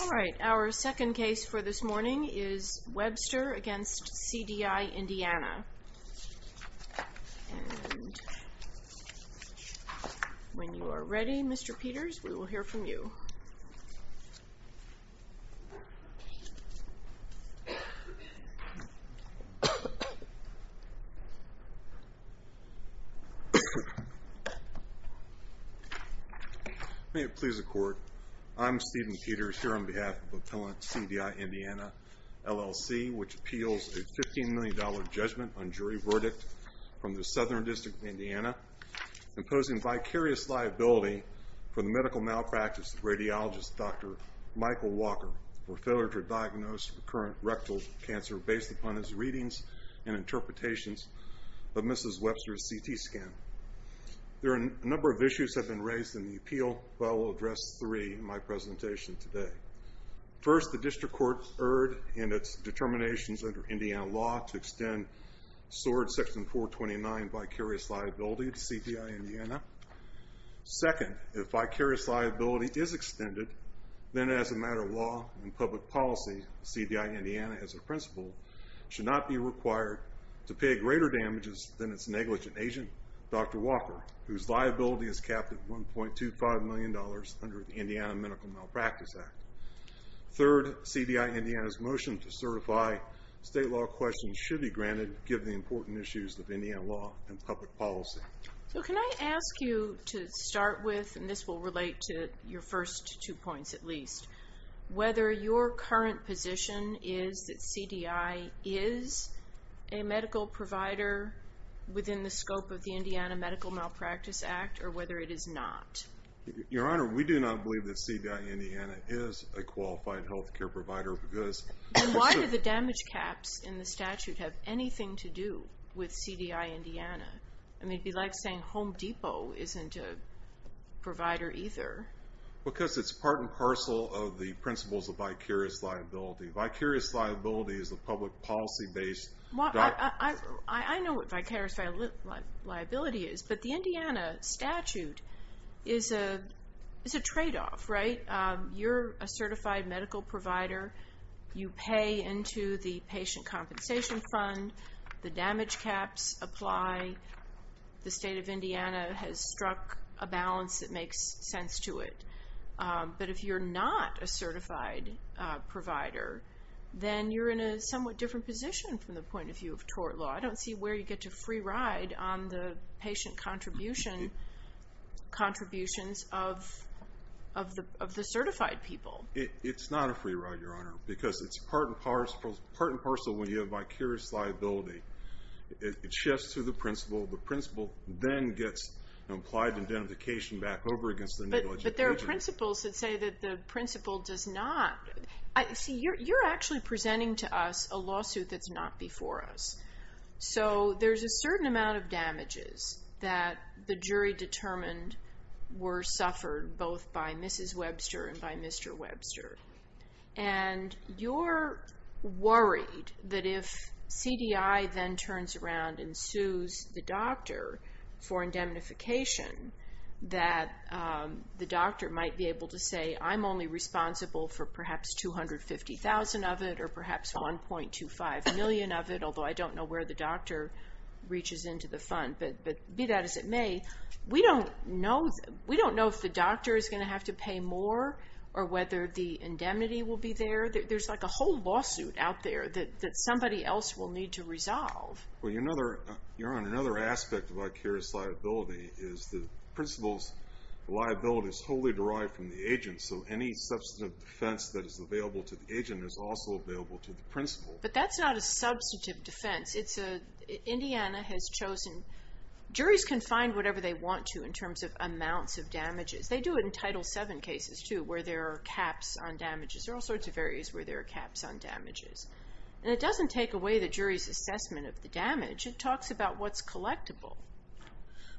Alright, our second case for this morning is Webster v. CDI Indiana. When you are ready, Mr. Peters, we will hear from you. May it please the Court, I'm Stephen Peters here on behalf of Appellant CDI Indiana, LLC, which appeals a $15 million judgment on jury verdict from the Southern District of Indiana, imposing vicarious liability for the medical malpractice of radiologist Dr. Michael Walker for failure to diagnose recurrent rectal cancer based upon his readings and interpretations of Mrs. Webster's CT scan. There are a number of issues that have been raised in the appeal, but I will address three in my attempt to extend SOARD section 429 vicarious liability to CDI Indiana. Second, if vicarious liability is extended, then as a matter of law and public policy, CDI Indiana, as a principle, should not be required to pay greater damages than its negligent agent, Dr. Walker, whose liability is capped at $1.25 million under the Indiana Medical Malpractice Act. Third, CDI Indiana's motion to be granted, given the important issues of Indiana law and public policy. So can I ask you to start with, and this will relate to your first two points at least, whether your current position is that CDI is a medical provider within the scope of the Indiana Medical Malpractice Act or whether it is not? Your Honor, we do not believe that CDI Indiana is a qualified health care provider because... Do the damage caps in the statute have anything to do with CDI Indiana? I mean, it would be like saying Home Depot isn't a provider either. Because it's part and parcel of the principles of vicarious liability. Vicarious liability is a public policy-based... I know what vicarious liability is, but the Indiana statute is a trade-off, right? You're a certified medical provider. You pay into the patient compensation fund. The damage caps apply. The state of Indiana has struck a balance that makes sense to it. But if you're not a certified, if you have tort law, I don't see where you get to free ride on the patient contributions of the certified people. It's not a free ride, Your Honor, because it's part and parcel of vicarious liability. It shifts to the principle. The principle then gets implied indemnification back over against the negligent patient. But there are principles that say that the principle does not... See, you're actually presenting to us a lawsuit that's not before us. So there's a certain amount of damages that the jury determined were for indemnification that the doctor might be able to say, I'm only responsible for perhaps $250,000 of it or perhaps $1.25 million of it, although I don't know where the doctor reaches into the fund. But be that as it may, we don't know if the doctor is going to have to pay more or whether the indemnity will be there. There's like a whole lawsuit out there that somebody else will need to resolve. Well, Your Honor, another aspect of vicarious liability is the principle's liability is wholly derived from the agent. So any substantive defense that is available to the agent is also available to the principle. But that's not a substantive defense. Indiana has chosen... Juries can find whatever they want to in terms of amounts of damages. They do it in Title VII cases, too, where there are caps on damages. There are all sorts of areas where there are caps on damages. And it doesn't take away the jury's assessment of the damage. It talks about what's collectible.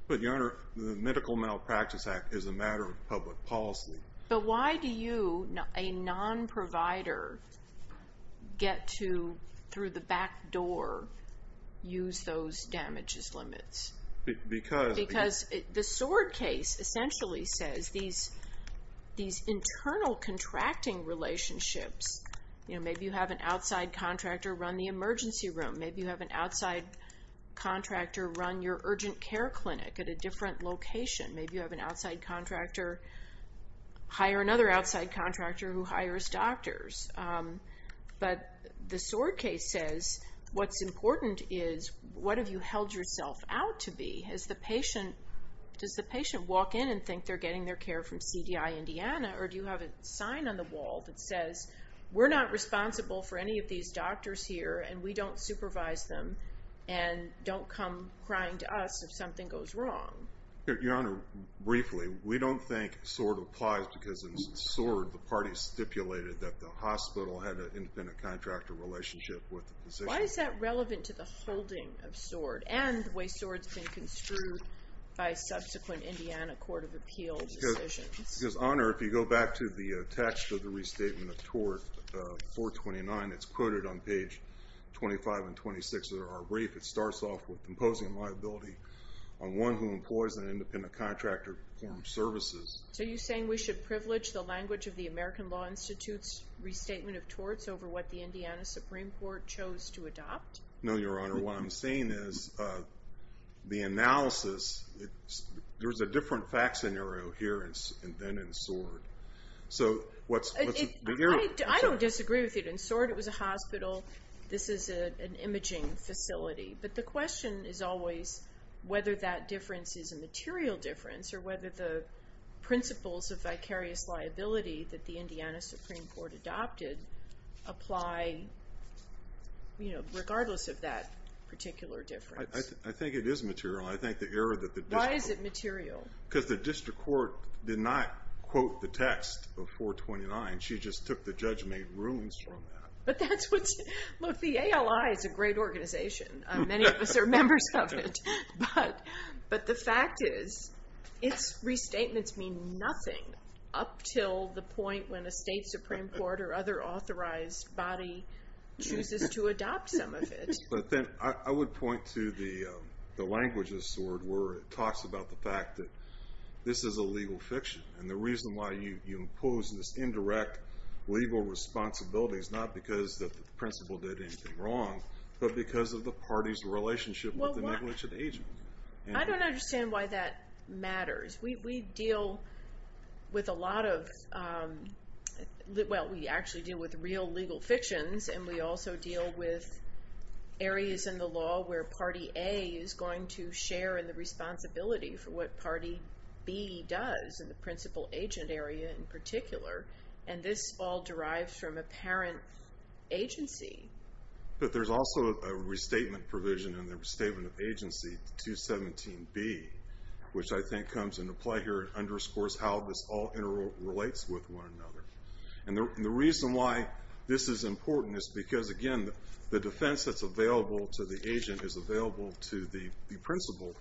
But, Your Honor, the Medical Malpractice Act is a matter of public policy. But why do you, a non-provider, get to, through the back door, use those damages limits? Because... The S.W.O.R.D. case essentially says these internal contracting relationships... Maybe you have an outside contractor run the emergency room. Maybe you have an outside contractor run your urgent care clinic at a different location. Maybe you have an outside contractor hire another outside contractor who hires doctors. But the S.W.O.R.D. case says, what's important is, what have you held yourself out to be? Does the patient walk in and think they're getting their care from CDI Indiana, or do you have a sign on the wall that says, we're not responsible for any of these doctors here, and we don't supervise them, and don't come crying to us if something goes wrong? Your Honor, briefly, we don't think S.W.O.R.D. applies because in S.W.O.R.D. the parties stipulated that the hospital had an independent contractor relationship with the physician. Why is that relevant to the holding of S.W.O.R.D. and the way S.W.O.R.D. has been construed by subsequent Indiana Court of Appeals decisions? Because, Honor, if you go back to the text of the Restatement of Tort 429, it's quoted on page 25 and 26 of our brief. It starts off with imposing liability on one who employs an independent contractor to perform services. So you're saying we should privilege the language of the American Law Institute's Restatement of Torts over what the Indiana Supreme Court chose to adopt? No, Your Honor. What I'm saying is, the analysis, there's a different facts scenario here than in S.W.O.R.D. I don't disagree with you. In S.W.O.R.D. it was a hospital. This is an imaging facility. But the question is always whether that difference is a material difference or whether the principles of vicarious liability that the Indiana Supreme Court adopted apply regardless of that particular difference. I think it is material. I think the error that the district court... Why is it material? She just took the judge-made rulings from that. But that's what's... Look, the ALI is a great organization. Many of us are members of it. But the fact is, its restatements mean nothing up till the point when a state supreme court or other authorized body chooses to adopt some of it. But then I would point to the language of S.W.O.R.D. where it talks about the fact that this is a legal fiction. And the reason why you impose this indirect legal responsibility is not because the principal did anything wrong, but because of the party's relationship with the negligent agent. I don't understand why that matters. We deal with a lot of... Well, we actually deal with real legal fictions. And we also deal with areas in the law where party A is going to share in the responsibility for what party B does in the principal-agent area in particular. And this all derives from apparent agency. But there's also a restatement provision in the restatement of agency, 217B, which I think comes into play here and underscores how this all interrelates with one another. And the reason why this is important is because, again, the defense that's available to the agent is available to the principal.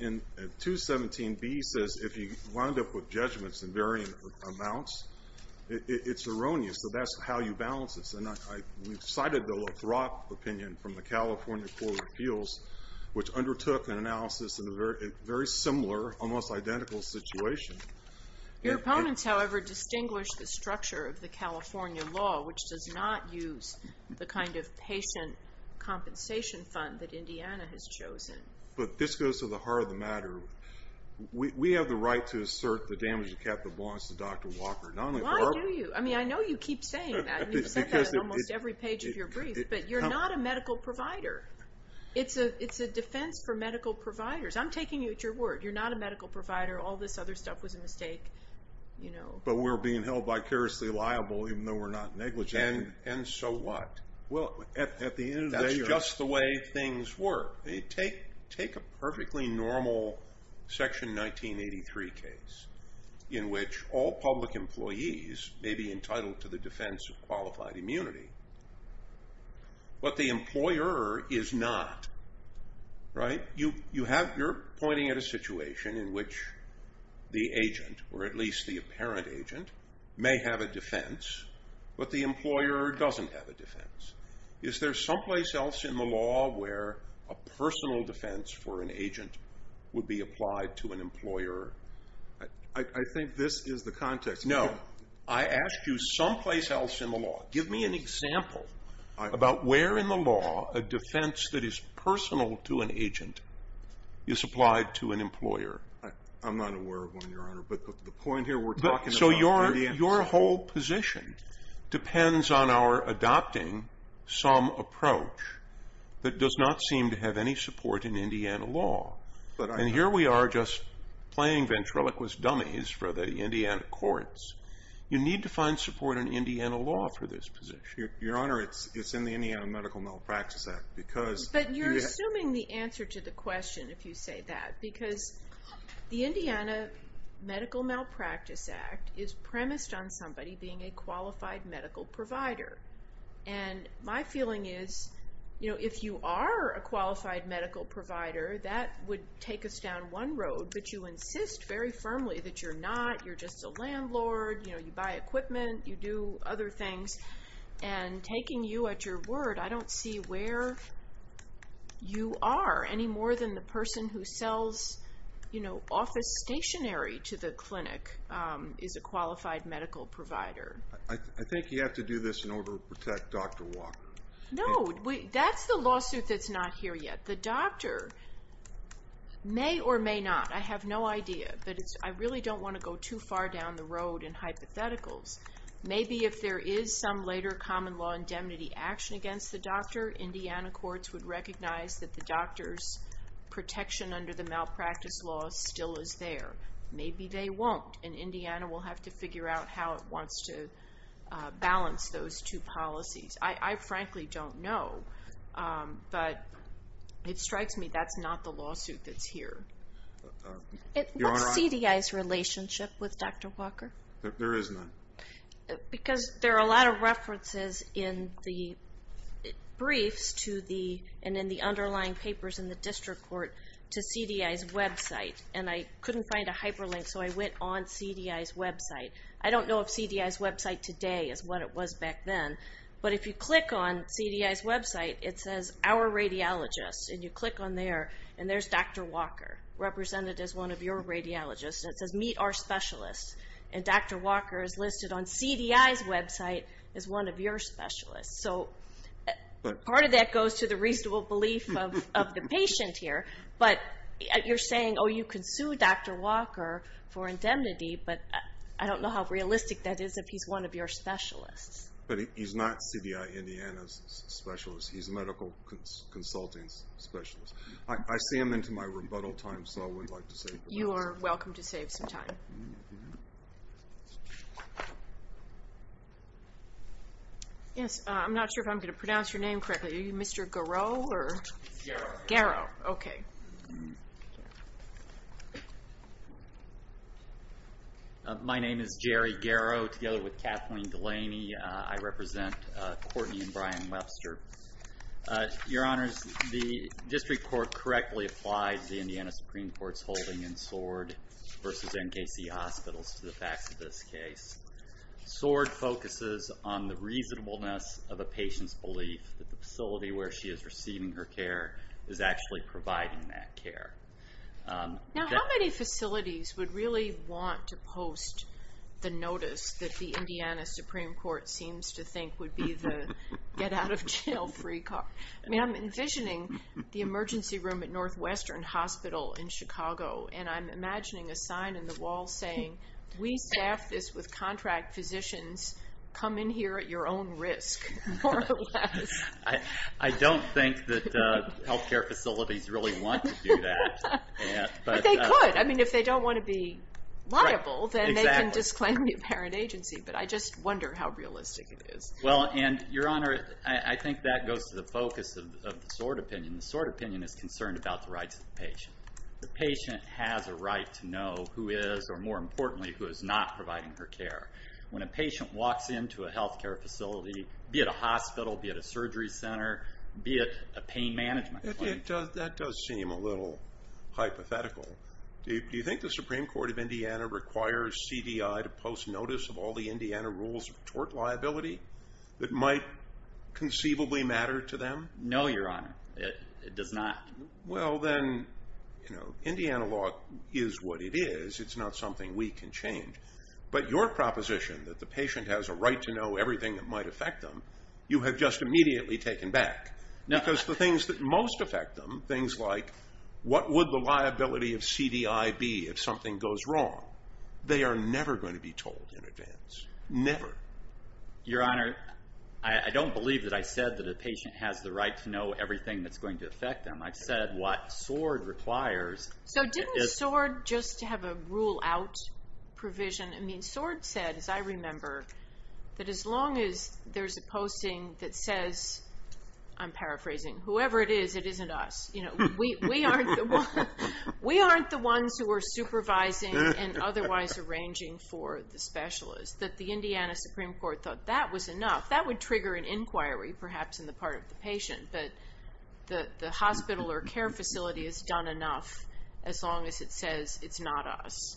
And 217B says if you wind up with judgments in varying amounts, it's erroneous. And so that's how you balance this. And we've cited the LaCroix opinion from the California Court of Appeals, which undertook an analysis in a very similar, almost identical situation. Your opponents, however, distinguish the structure of the California law, which does not use the kind of patient compensation fund that Indiana has chosen. But this goes to the heart of the matter. We have the right to assert the damage of capital bonds to Dr. Walker. Why do you? I mean, I know you keep saying that. You've said that on almost every page of your brief. But you're not a medical provider. It's a defense for medical providers. I'm taking you at your word. You're not a medical provider. All this other stuff was a mistake. But we're being held vicariously liable, even though we're not negligent. And so what? Well, at the end of the day, that's just the way things work. Take a perfectly normal Section 1983 case in which all public employees may be entitled to the defense of qualified immunity, but the employer is not. Right? You're pointing at a situation in which the agent, or at least the apparent agent, may have a defense, but the employer doesn't have a defense. Is there someplace else in the law where a personal defense for an agent would be applied to an employer? I think this is the context. No. I asked you someplace else in the law. Give me an example about where in the law a defense that is personal to an agent is applied to an employer. I'm not aware of one, Your Honor. So your whole position depends on our adopting some approach that does not seem to have any support in Indiana law. And here we are just playing ventriloquist dummies for the Indiana courts. You need to find support in Indiana law for this position. Your Honor, it's in the Indiana Medical Malpractice Act. But you're assuming the answer to the question if you say that. Because the Indiana Medical Malpractice Act is premised on somebody being a qualified medical provider. And my feeling is if you are a qualified medical provider, that would take us down one road. But you insist very firmly that you're not. You're just a landlord. You buy equipment. You do other things. And taking you at your word, I don't see where you are any more than the person who sells office stationery to the clinic is a qualified medical provider. I think you have to do this in order to protect Dr. Walker. No. That's the lawsuit that's not here yet. The doctor may or may not. I have no idea. But I really don't want to go too far down the road in hypotheticals. Maybe if there is some later common law indemnity action against the doctor, Indiana courts would recognize that the doctor's protection under the malpractice law still is there. Maybe they won't. And Indiana will have to figure out how it wants to balance those two policies. I frankly don't know. But it strikes me that's not the lawsuit that's here. What's CDI's relationship with Dr. Walker? There is none. Because there are a lot of references in the briefs to the and in the underlying papers in the district court to CDI's website. And I couldn't find a hyperlink, so I went on CDI's website. I don't know if CDI's website today is what it was back then. But if you click on CDI's website, it says Our Radiologists. And you click on there, and there's Dr. Walker represented as one of your radiologists. And it says Meet Our Specialists. And Dr. Walker is listed on CDI's website as one of your specialists. So part of that goes to the reasonable belief of the patient here. But you're saying, oh, you could sue Dr. Walker for indemnity, but I don't know how realistic that is if he's one of your specialists. But he's not CDI Indiana's specialist. He's a medical consulting specialist. I see him into my rebuttal time, so I would like to save him. You are welcome to save some time. Thank you. Yes, I'm not sure if I'm going to pronounce your name correctly. Are you Mr. Garrow or? Garrow. Garrow, okay. My name is Jerry Garrow, together with Kathleen Delaney. I represent Courtney and Brian Webster. Your Honors, the district court correctly applies the Indiana Supreme Court's holding in Sword versus NKC Hospitals to the facts of this case. Sword focuses on the reasonableness of a patient's belief that the facility where she is receiving her care is actually providing that care. Now, how many facilities would really want to post the notice that the Indiana Supreme Court seems to think would be the get-out-of-jail-free card? I mean, I'm envisioning the emergency room at Northwestern Hospital in Chicago, and I'm imagining a sign in the wall saying, we staff this with contract physicians. Come in here at your own risk, more or less. I don't think that health care facilities really want to do that. But they could. I mean, if they don't want to be liable, then they can disclaim the apparent agency. But I just wonder how realistic it is. Well, and Your Honor, I think that goes to the focus of the Sword opinion. The Sword opinion is concerned about the rights of the patient. The patient has a right to know who is, or more importantly, who is not providing her care. When a patient walks into a health care facility, be it a hospital, be it a surgery center, be it a pain management clinic. That does seem a little hypothetical. Do you think the Supreme Court of Indiana requires CDI to post notice of all the things that might conceivably matter to them? No, Your Honor, it does not. Well, then, you know, Indiana law is what it is. It's not something we can change. But your proposition that the patient has a right to know everything that might affect them, you have just immediately taken back. Because the things that most affect them, things like what would the liability of CDI be if something goes wrong, they are never going to be told in advance. Never. Your Honor, I don't believe that I said that a patient has the right to know everything that's going to affect them. I've said what Sword requires. So didn't Sword just have a rule out provision? I mean, Sword said, as I remember, that as long as there's a posting that says, I'm paraphrasing, whoever it is, it isn't us. You know, we aren't the ones who are supervising and otherwise arranging for the specialist, that the Indiana Supreme Court thought that was enough. That would trigger an inquiry, perhaps, in the part of the patient. But the hospital or care facility has done enough as long as it says it's not us.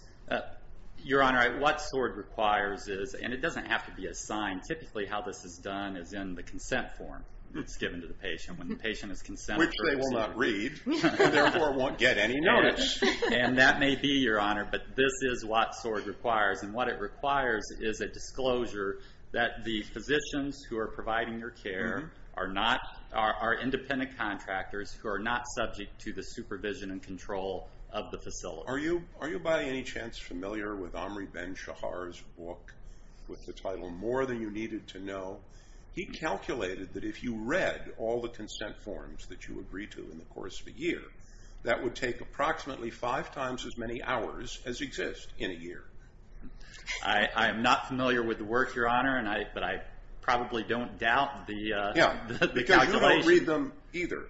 Your Honor, what Sword requires is, and it doesn't have to be a sign. Typically, how this is done is in the consent form that's given to the patient. When the patient has consented. Which they will not read. Therefore, won't get any notice. And that may be, Your Honor, but this is what Sword requires. And what it requires is a disclosure that the physicians who are providing your care are independent contractors who are not subject to the supervision and control of the facility. Are you by any chance familiar with Omri Ben-Shahar's book with the title More Than You Needed to Know? He calculated that if you read all the consent forms that you agree to in the course of a year, that would take approximately five times as many hours as exist in a year. I am not familiar with the work, Your Honor, but I probably don't doubt the calculation. Yeah, because you don't read them either.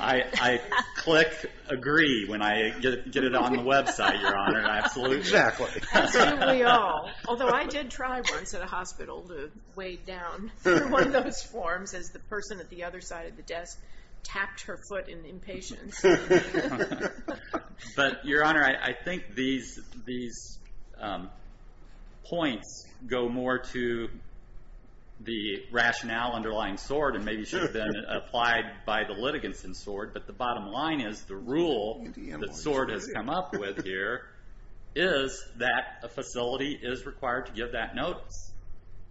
I click agree when I get it on the website, Your Honor, absolutely. Exactly. As do we all. Although I did try once at a hospital to wade down through one of those forms as the person at the other side of the desk tapped her foot in impatience. But, Your Honor, I think these points go more to the rationale underlying Sword and maybe should have been applied by the litigants in Sword. But the bottom line is the rule that Sword has come up with here is that a facility is required to give that notice.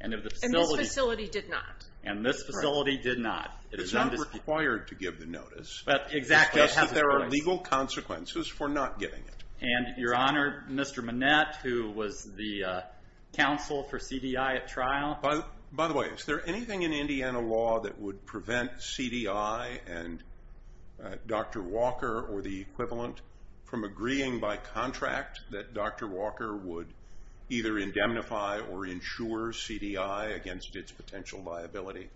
And this facility did not. It is not required to give the notice. Exactly. Just that there are legal consequences for not giving it. And, Your Honor, Mr. Manette, who was the counsel for CDI at trial. By the way, is there anything in Indiana law that would prevent CDI and Dr. Walker or the equivalent from agreeing by contract that Dr. Walker would either indemnify or insure CDI against its potential liability?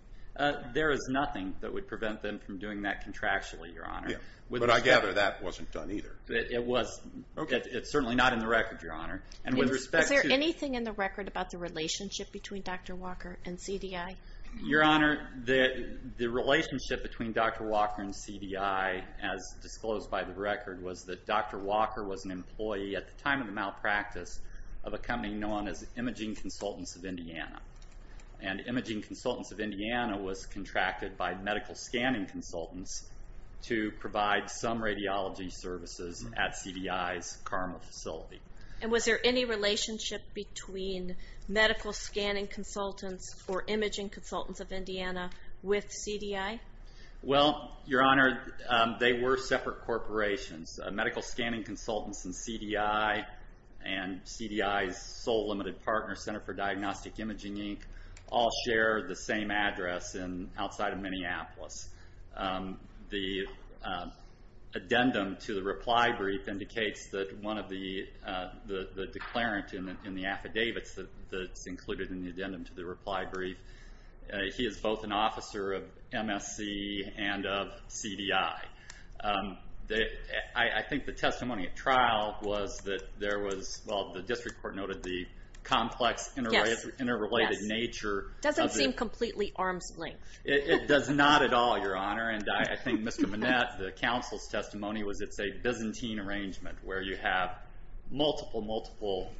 There is nothing that would prevent them from doing that contractually, Your Honor. But I gather that wasn't done either. It was. It's certainly not in the record, Your Honor. Is there anything in the record about the relationship between Dr. Walker and CDI? Your Honor, the relationship between Dr. Walker and CDI, as disclosed by the record, was that Dr. Walker was an employee at the time of the malpractice of a company known as Imaging Consultants of Indiana. And Imaging Consultants of Indiana was contracted by Medical Scanning Consultants to provide some radiology services at CDI's CARMA facility. And was there any relationship between Medical Scanning Consultants or Imaging Consultants of Indiana with CDI? Well, Your Honor, they were separate corporations. Medical Scanning Consultants and CDI and CDI's sole limited partner, Center for Diagnostic Imaging Inc., all share the same address outside of Minneapolis. The addendum to the reply brief indicates that one of the declarant in the affidavits that's included in the addendum to the reply brief, he is both an officer of MSC and of CDI. I think the testimony at trial was that there was, well, the district court noted the complex interrelated nature. Doesn't seem completely arm's length. It does not at all, Your Honor. And I think Mr. Manette, the counsel's testimony was it's a Byzantine arrangement where you have multiple, multiple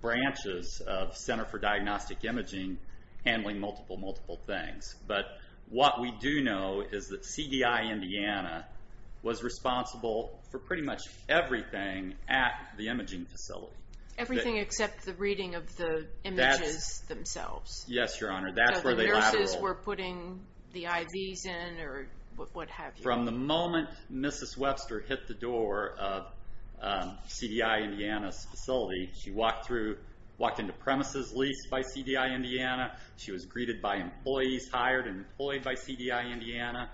branches of Center for Diagnostic Imaging handling multiple, multiple things. But what we do know is that CDI Indiana was responsible for pretty much everything at the imaging facility. Everything except the reading of the images themselves. Yes, Your Honor, that's where they lateral. The nurses were putting the IVs in or what have you. From the moment Mrs. Webster hit the door of CDI Indiana's facility, she walked into premises leased by CDI Indiana. She was greeted by employees hired and employed by CDI Indiana.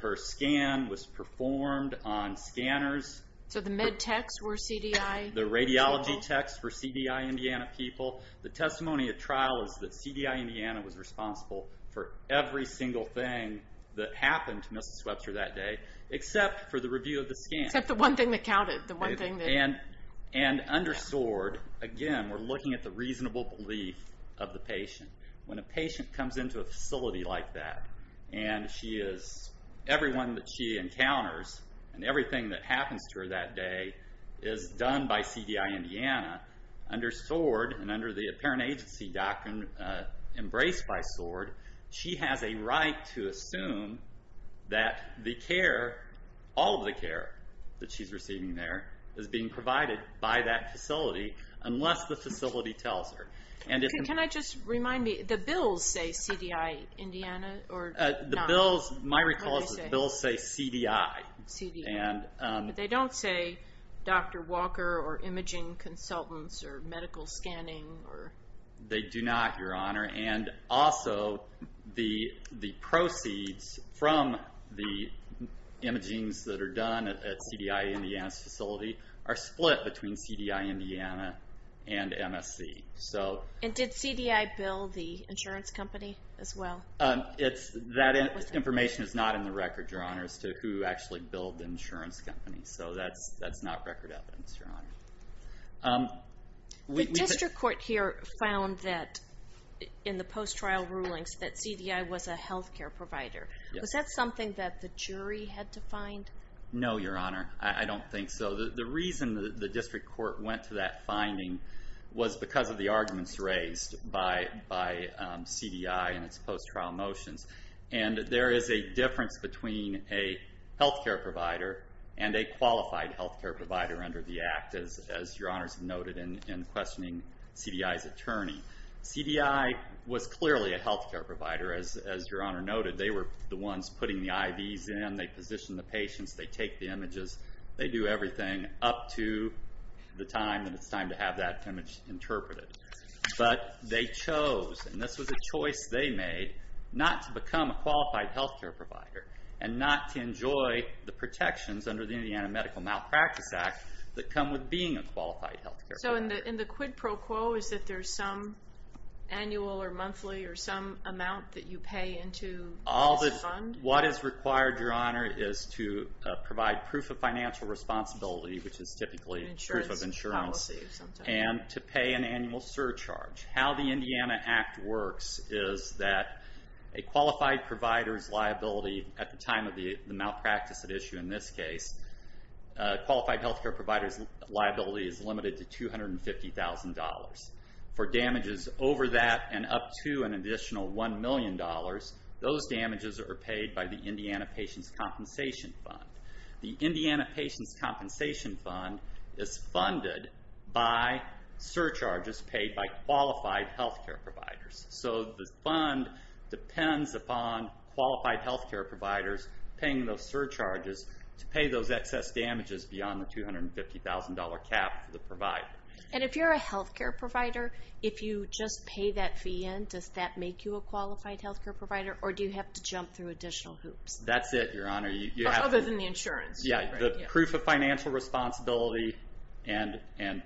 Her scan was performed on scanners. So the med techs were CDI? The radiology techs were CDI Indiana people. The testimony at trial is that CDI Indiana was responsible for every single thing that happened to Mrs. Webster that day except for the review of the scan. Except the one thing that counted. Under S.W.O.R.D., again, we're looking at the reasonable belief of the patient. When a patient comes into a facility like that, and everyone that she encounters and everything that happens to her that day is done by CDI Indiana, under S.W.O.R.D. and under the apparent agency doctrine embraced by S.W.O.R.D., she has a right to assume that the care, all of the care that she's receiving there is being provided by that facility unless the facility tells her. Can I just remind me, the bills say CDI Indiana? The bills, my recall is the bills say CDI. But they don't say Dr. Walker or imaging consultants or medical scanning? They do not, Your Honor, and also the proceeds from the imagings that are done at CDI Indiana's facility are split between CDI Indiana and MSC. And did CDI bill the insurance company as well? That information is not in the record, Your Honor, as to who actually billed the insurance company. So that's not record evidence, Your Honor. The district court here found that in the post-trial rulings that CDI was a health care provider. Was that something that the jury had to find? No, Your Honor, I don't think so. The reason the district court went to that finding was because of the arguments raised by CDI in its post-trial motions. And there is a difference between a health care provider and a qualified health care provider under the act, as Your Honor has noted in questioning CDI's attorney. CDI was clearly a health care provider, as Your Honor noted. They were the ones putting the IVs in. They positioned the patients. They take the images. They do everything up to the time that it's time to have that image interpreted. But they chose, and this was a choice they made, not to become a qualified health care provider and not to enjoy the protections under the Indiana Medical Malpractice Act that come with being a qualified health care provider. So in the quid pro quo, is that there's some annual or monthly or some amount that you pay into this fund? What is required, Your Honor, is to provide proof of financial responsibility, which is typically proof of insurance, and to pay an annual surcharge. How the Indiana Act works is that a qualified provider's liability at the time of the malpractice at issue in this case, qualified health care provider's liability is limited to $250,000. For damages over that and up to an additional $1 million, those damages are paid by the Indiana Patients' Compensation Fund. The Indiana Patients' Compensation Fund is funded by surcharges paid by qualified health care providers. So the fund depends upon qualified health care providers paying those surcharges to pay those excess damages beyond the $250,000 cap for the provider. And if you're a health care provider, if you just pay that fee in, does that make you a qualified health care provider, or do you have to jump through additional hoops? That's it, Your Honor. Other than the insurance. Yeah, the proof of financial responsibility and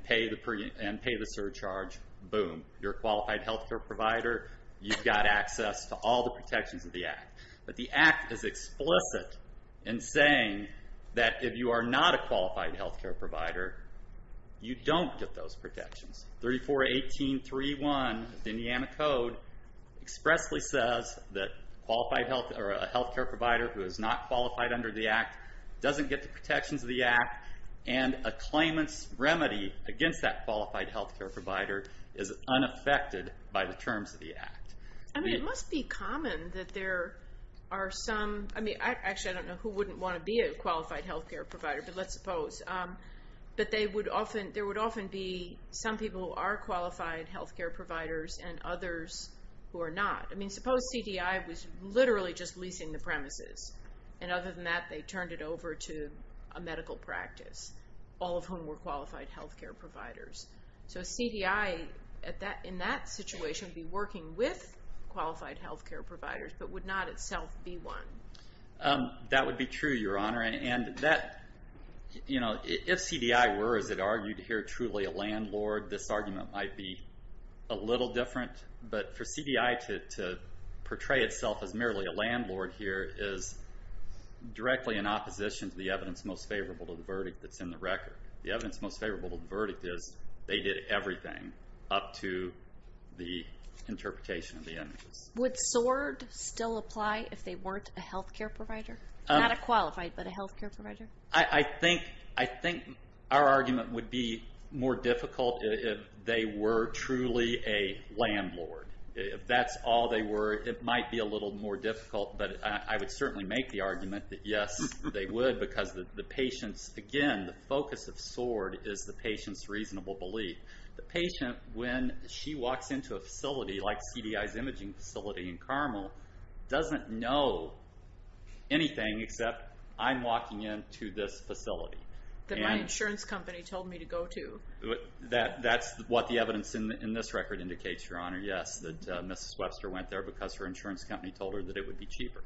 pay the surcharge, boom. You're a qualified health care provider. You've got access to all the protections of the Act. But the Act is explicit in saying that if you are not a qualified health care provider, you don't get those protections. 3418.3.1 of the Indiana Code expressly says that a health care provider who is not qualified under the Act doesn't get the protections of the Act, and a claimant's remedy against that qualified health care provider is unaffected by the terms of the Act. I mean, it must be common that there are some. Actually, I don't know who wouldn't want to be a qualified health care provider, but let's suppose. But there would often be some people who are qualified health care providers and others who are not. I mean, suppose CDI was literally just leasing the premises, and other than that they turned it over to a medical practice, all of whom were qualified health care providers. So CDI in that situation would be working with qualified health care providers but would not itself be one. That would be true, Your Honor. And if CDI were, as it argued here, truly a landlord, this argument might be a little different. But for CDI to portray itself as merely a landlord here is directly in opposition to the evidence most favorable to the verdict that's in the record. The evidence most favorable to the verdict is they did everything up to the interpretation of the images. Would SORD still apply if they weren't a health care provider? Not a qualified, but a health care provider? I think our argument would be more difficult if they were truly a landlord. If that's all they were, it might be a little more difficult. But I would certainly make the argument that, yes, they would, because, again, the focus of SORD is the patient's reasonable belief. The patient, when she walks into a facility like CDI's imaging facility in Carmel, doesn't know anything except, I'm walking into this facility. That my insurance company told me to go to. That's what the evidence in this record indicates, Your Honor. Yes, that Mrs. Webster went there because her insurance company told her that it would be cheaper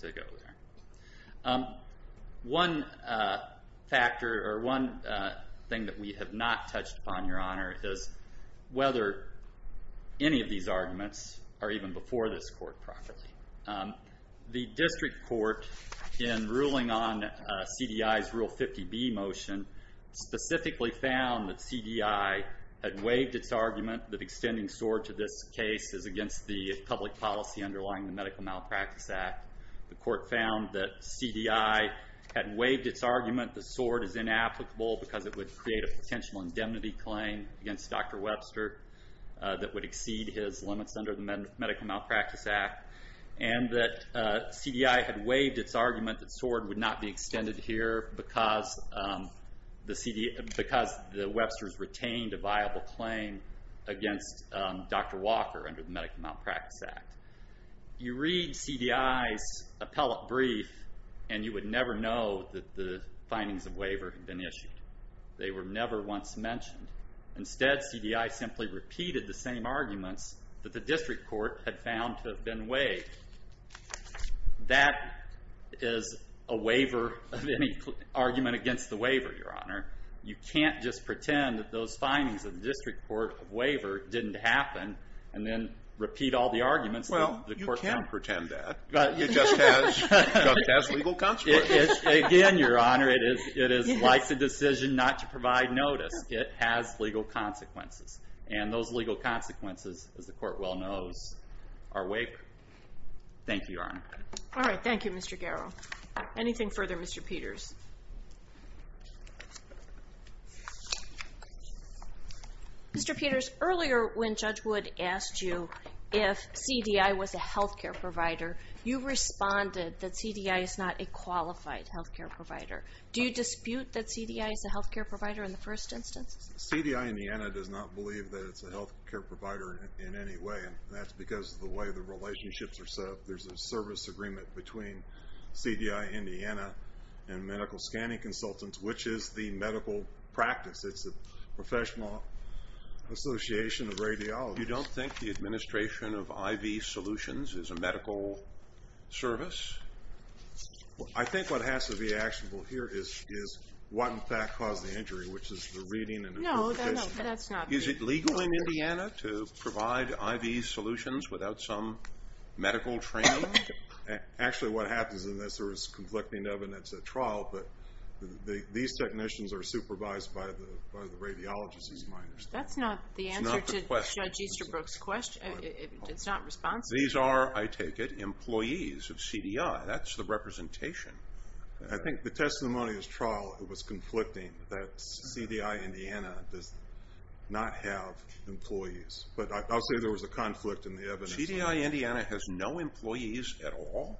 to go there. One thing that we have not touched upon, Your Honor, is whether any of these arguments are even before this court properly. The district court, in ruling on CDI's Rule 50B motion, specifically found that CDI had waived its argument that extending SORD to this case is against the public policy underlying the Medical Malpractice Act. The court found that CDI had waived its argument that SORD is inapplicable because it would create a potential indemnity claim against Dr. Webster that would exceed his limits under the Medical Malpractice Act. And that CDI had waived its argument that SORD would not be extended here because the Websters retained a viable claim against Dr. Walker under the Medical Malpractice Act. You read CDI's appellate brief and you would never know that the findings of waiver had been issued. They were never once mentioned. Instead, CDI simply repeated the same arguments that the district court had found to have been waived. That is a waiver of any argument against the waiver, Your Honor. You can't just pretend that those findings of the district court of waiver didn't happen and then repeat all the arguments that the court found. Well, you can pretend that. You just have to have legal conspiracy. Again, Your Honor, it is like the decision not to provide notice. It has legal consequences. And those legal consequences, as the court well knows, are wake. Thank you, Your Honor. All right. Thank you, Mr. Garrow. Anything further, Mr. Peters? Mr. Peters, earlier when Judge Wood asked you if CDI was a health care provider, you responded that CDI is not a qualified health care provider. Do you dispute that CDI is a health care provider in the first instance? CDI Indiana does not believe that it's a health care provider in any way, and that's because of the way the relationships are set up. There's a service agreement between CDI Indiana and medical scanning consultants, which is the medical practice. It's a professional association of radiologists. You don't think the administration of IV solutions is a medical service? I think what has to be actionable here is what, in fact, caused the injury, which is the reading and interpretation. No, that's not true. Is it legal in Indiana to provide IV solutions without some medical training? Actually, what happens in this, there is conflicting evidence at trial, but these technicians are supervised by the radiologists, these minors. That's not the answer to Judge Easterbrook's question. It's not responsive. These are, I take it, employees of CDI. That's the representation. I think the testimony at trial was conflicting, that CDI Indiana does not have employees. But I'll say there was a conflict in the evidence. CDI Indiana has no employees at all?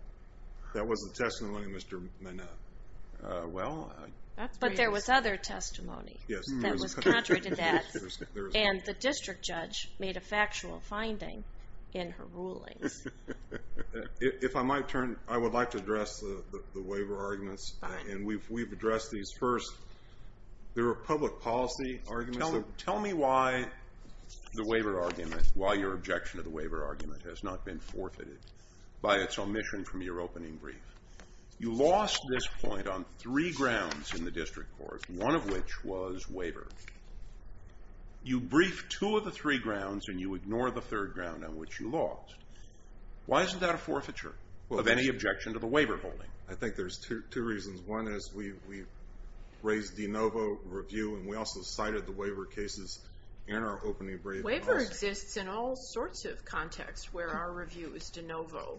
That was the testimony of Mr. Minow. But there was other testimony that was contrary to that, and the district judge made a factual finding in her rulings. If I might turn, I would like to address the waiver arguments, and we've addressed these first. There are public policy arguments. Tell me why the waiver argument, why your objection to the waiver argument has not been forfeited by its omission from your opening brief. You lost this point on three grounds in the district court, one of which was waiver. You briefed two of the three grounds, and you ignore the third ground on which you lost. Why isn't that a forfeiture of any objection to the waiver holding? I think there's two reasons. One is we've raised de novo review, and we also cited the waiver cases in our opening brief. Waiver exists in all sorts of contexts where our review is de novo.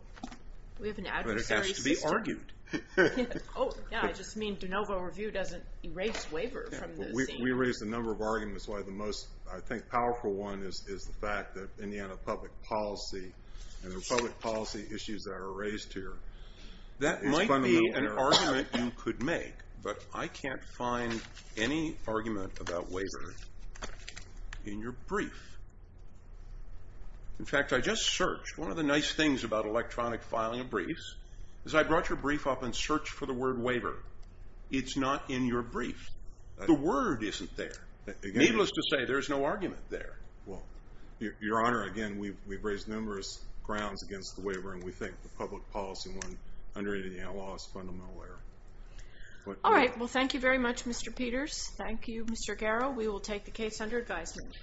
We have an adversary system. But it has to be argued. Oh, yeah, I just mean de novo review doesn't erase waiver from the scene. We raised a number of arguments. Why the most, I think, powerful one is the fact that Indiana public policy and the public policy issues that are raised here. That might be an argument you could make, but I can't find any argument about waiver in your brief. In fact, I just searched. One of the nice things about electronic filing of briefs is I brought your brief up and searched for the word waiver. It's not in your brief. The word isn't there. Needless to say, there's no argument there. Well, Your Honor, again, we've raised numerous grounds against the waiver, and we think the public policy one under Indiana law is fundamental error. All right. Well, thank you very much, Mr. Peters. Thank you, Mr. Garrow. We will take the case under advisement.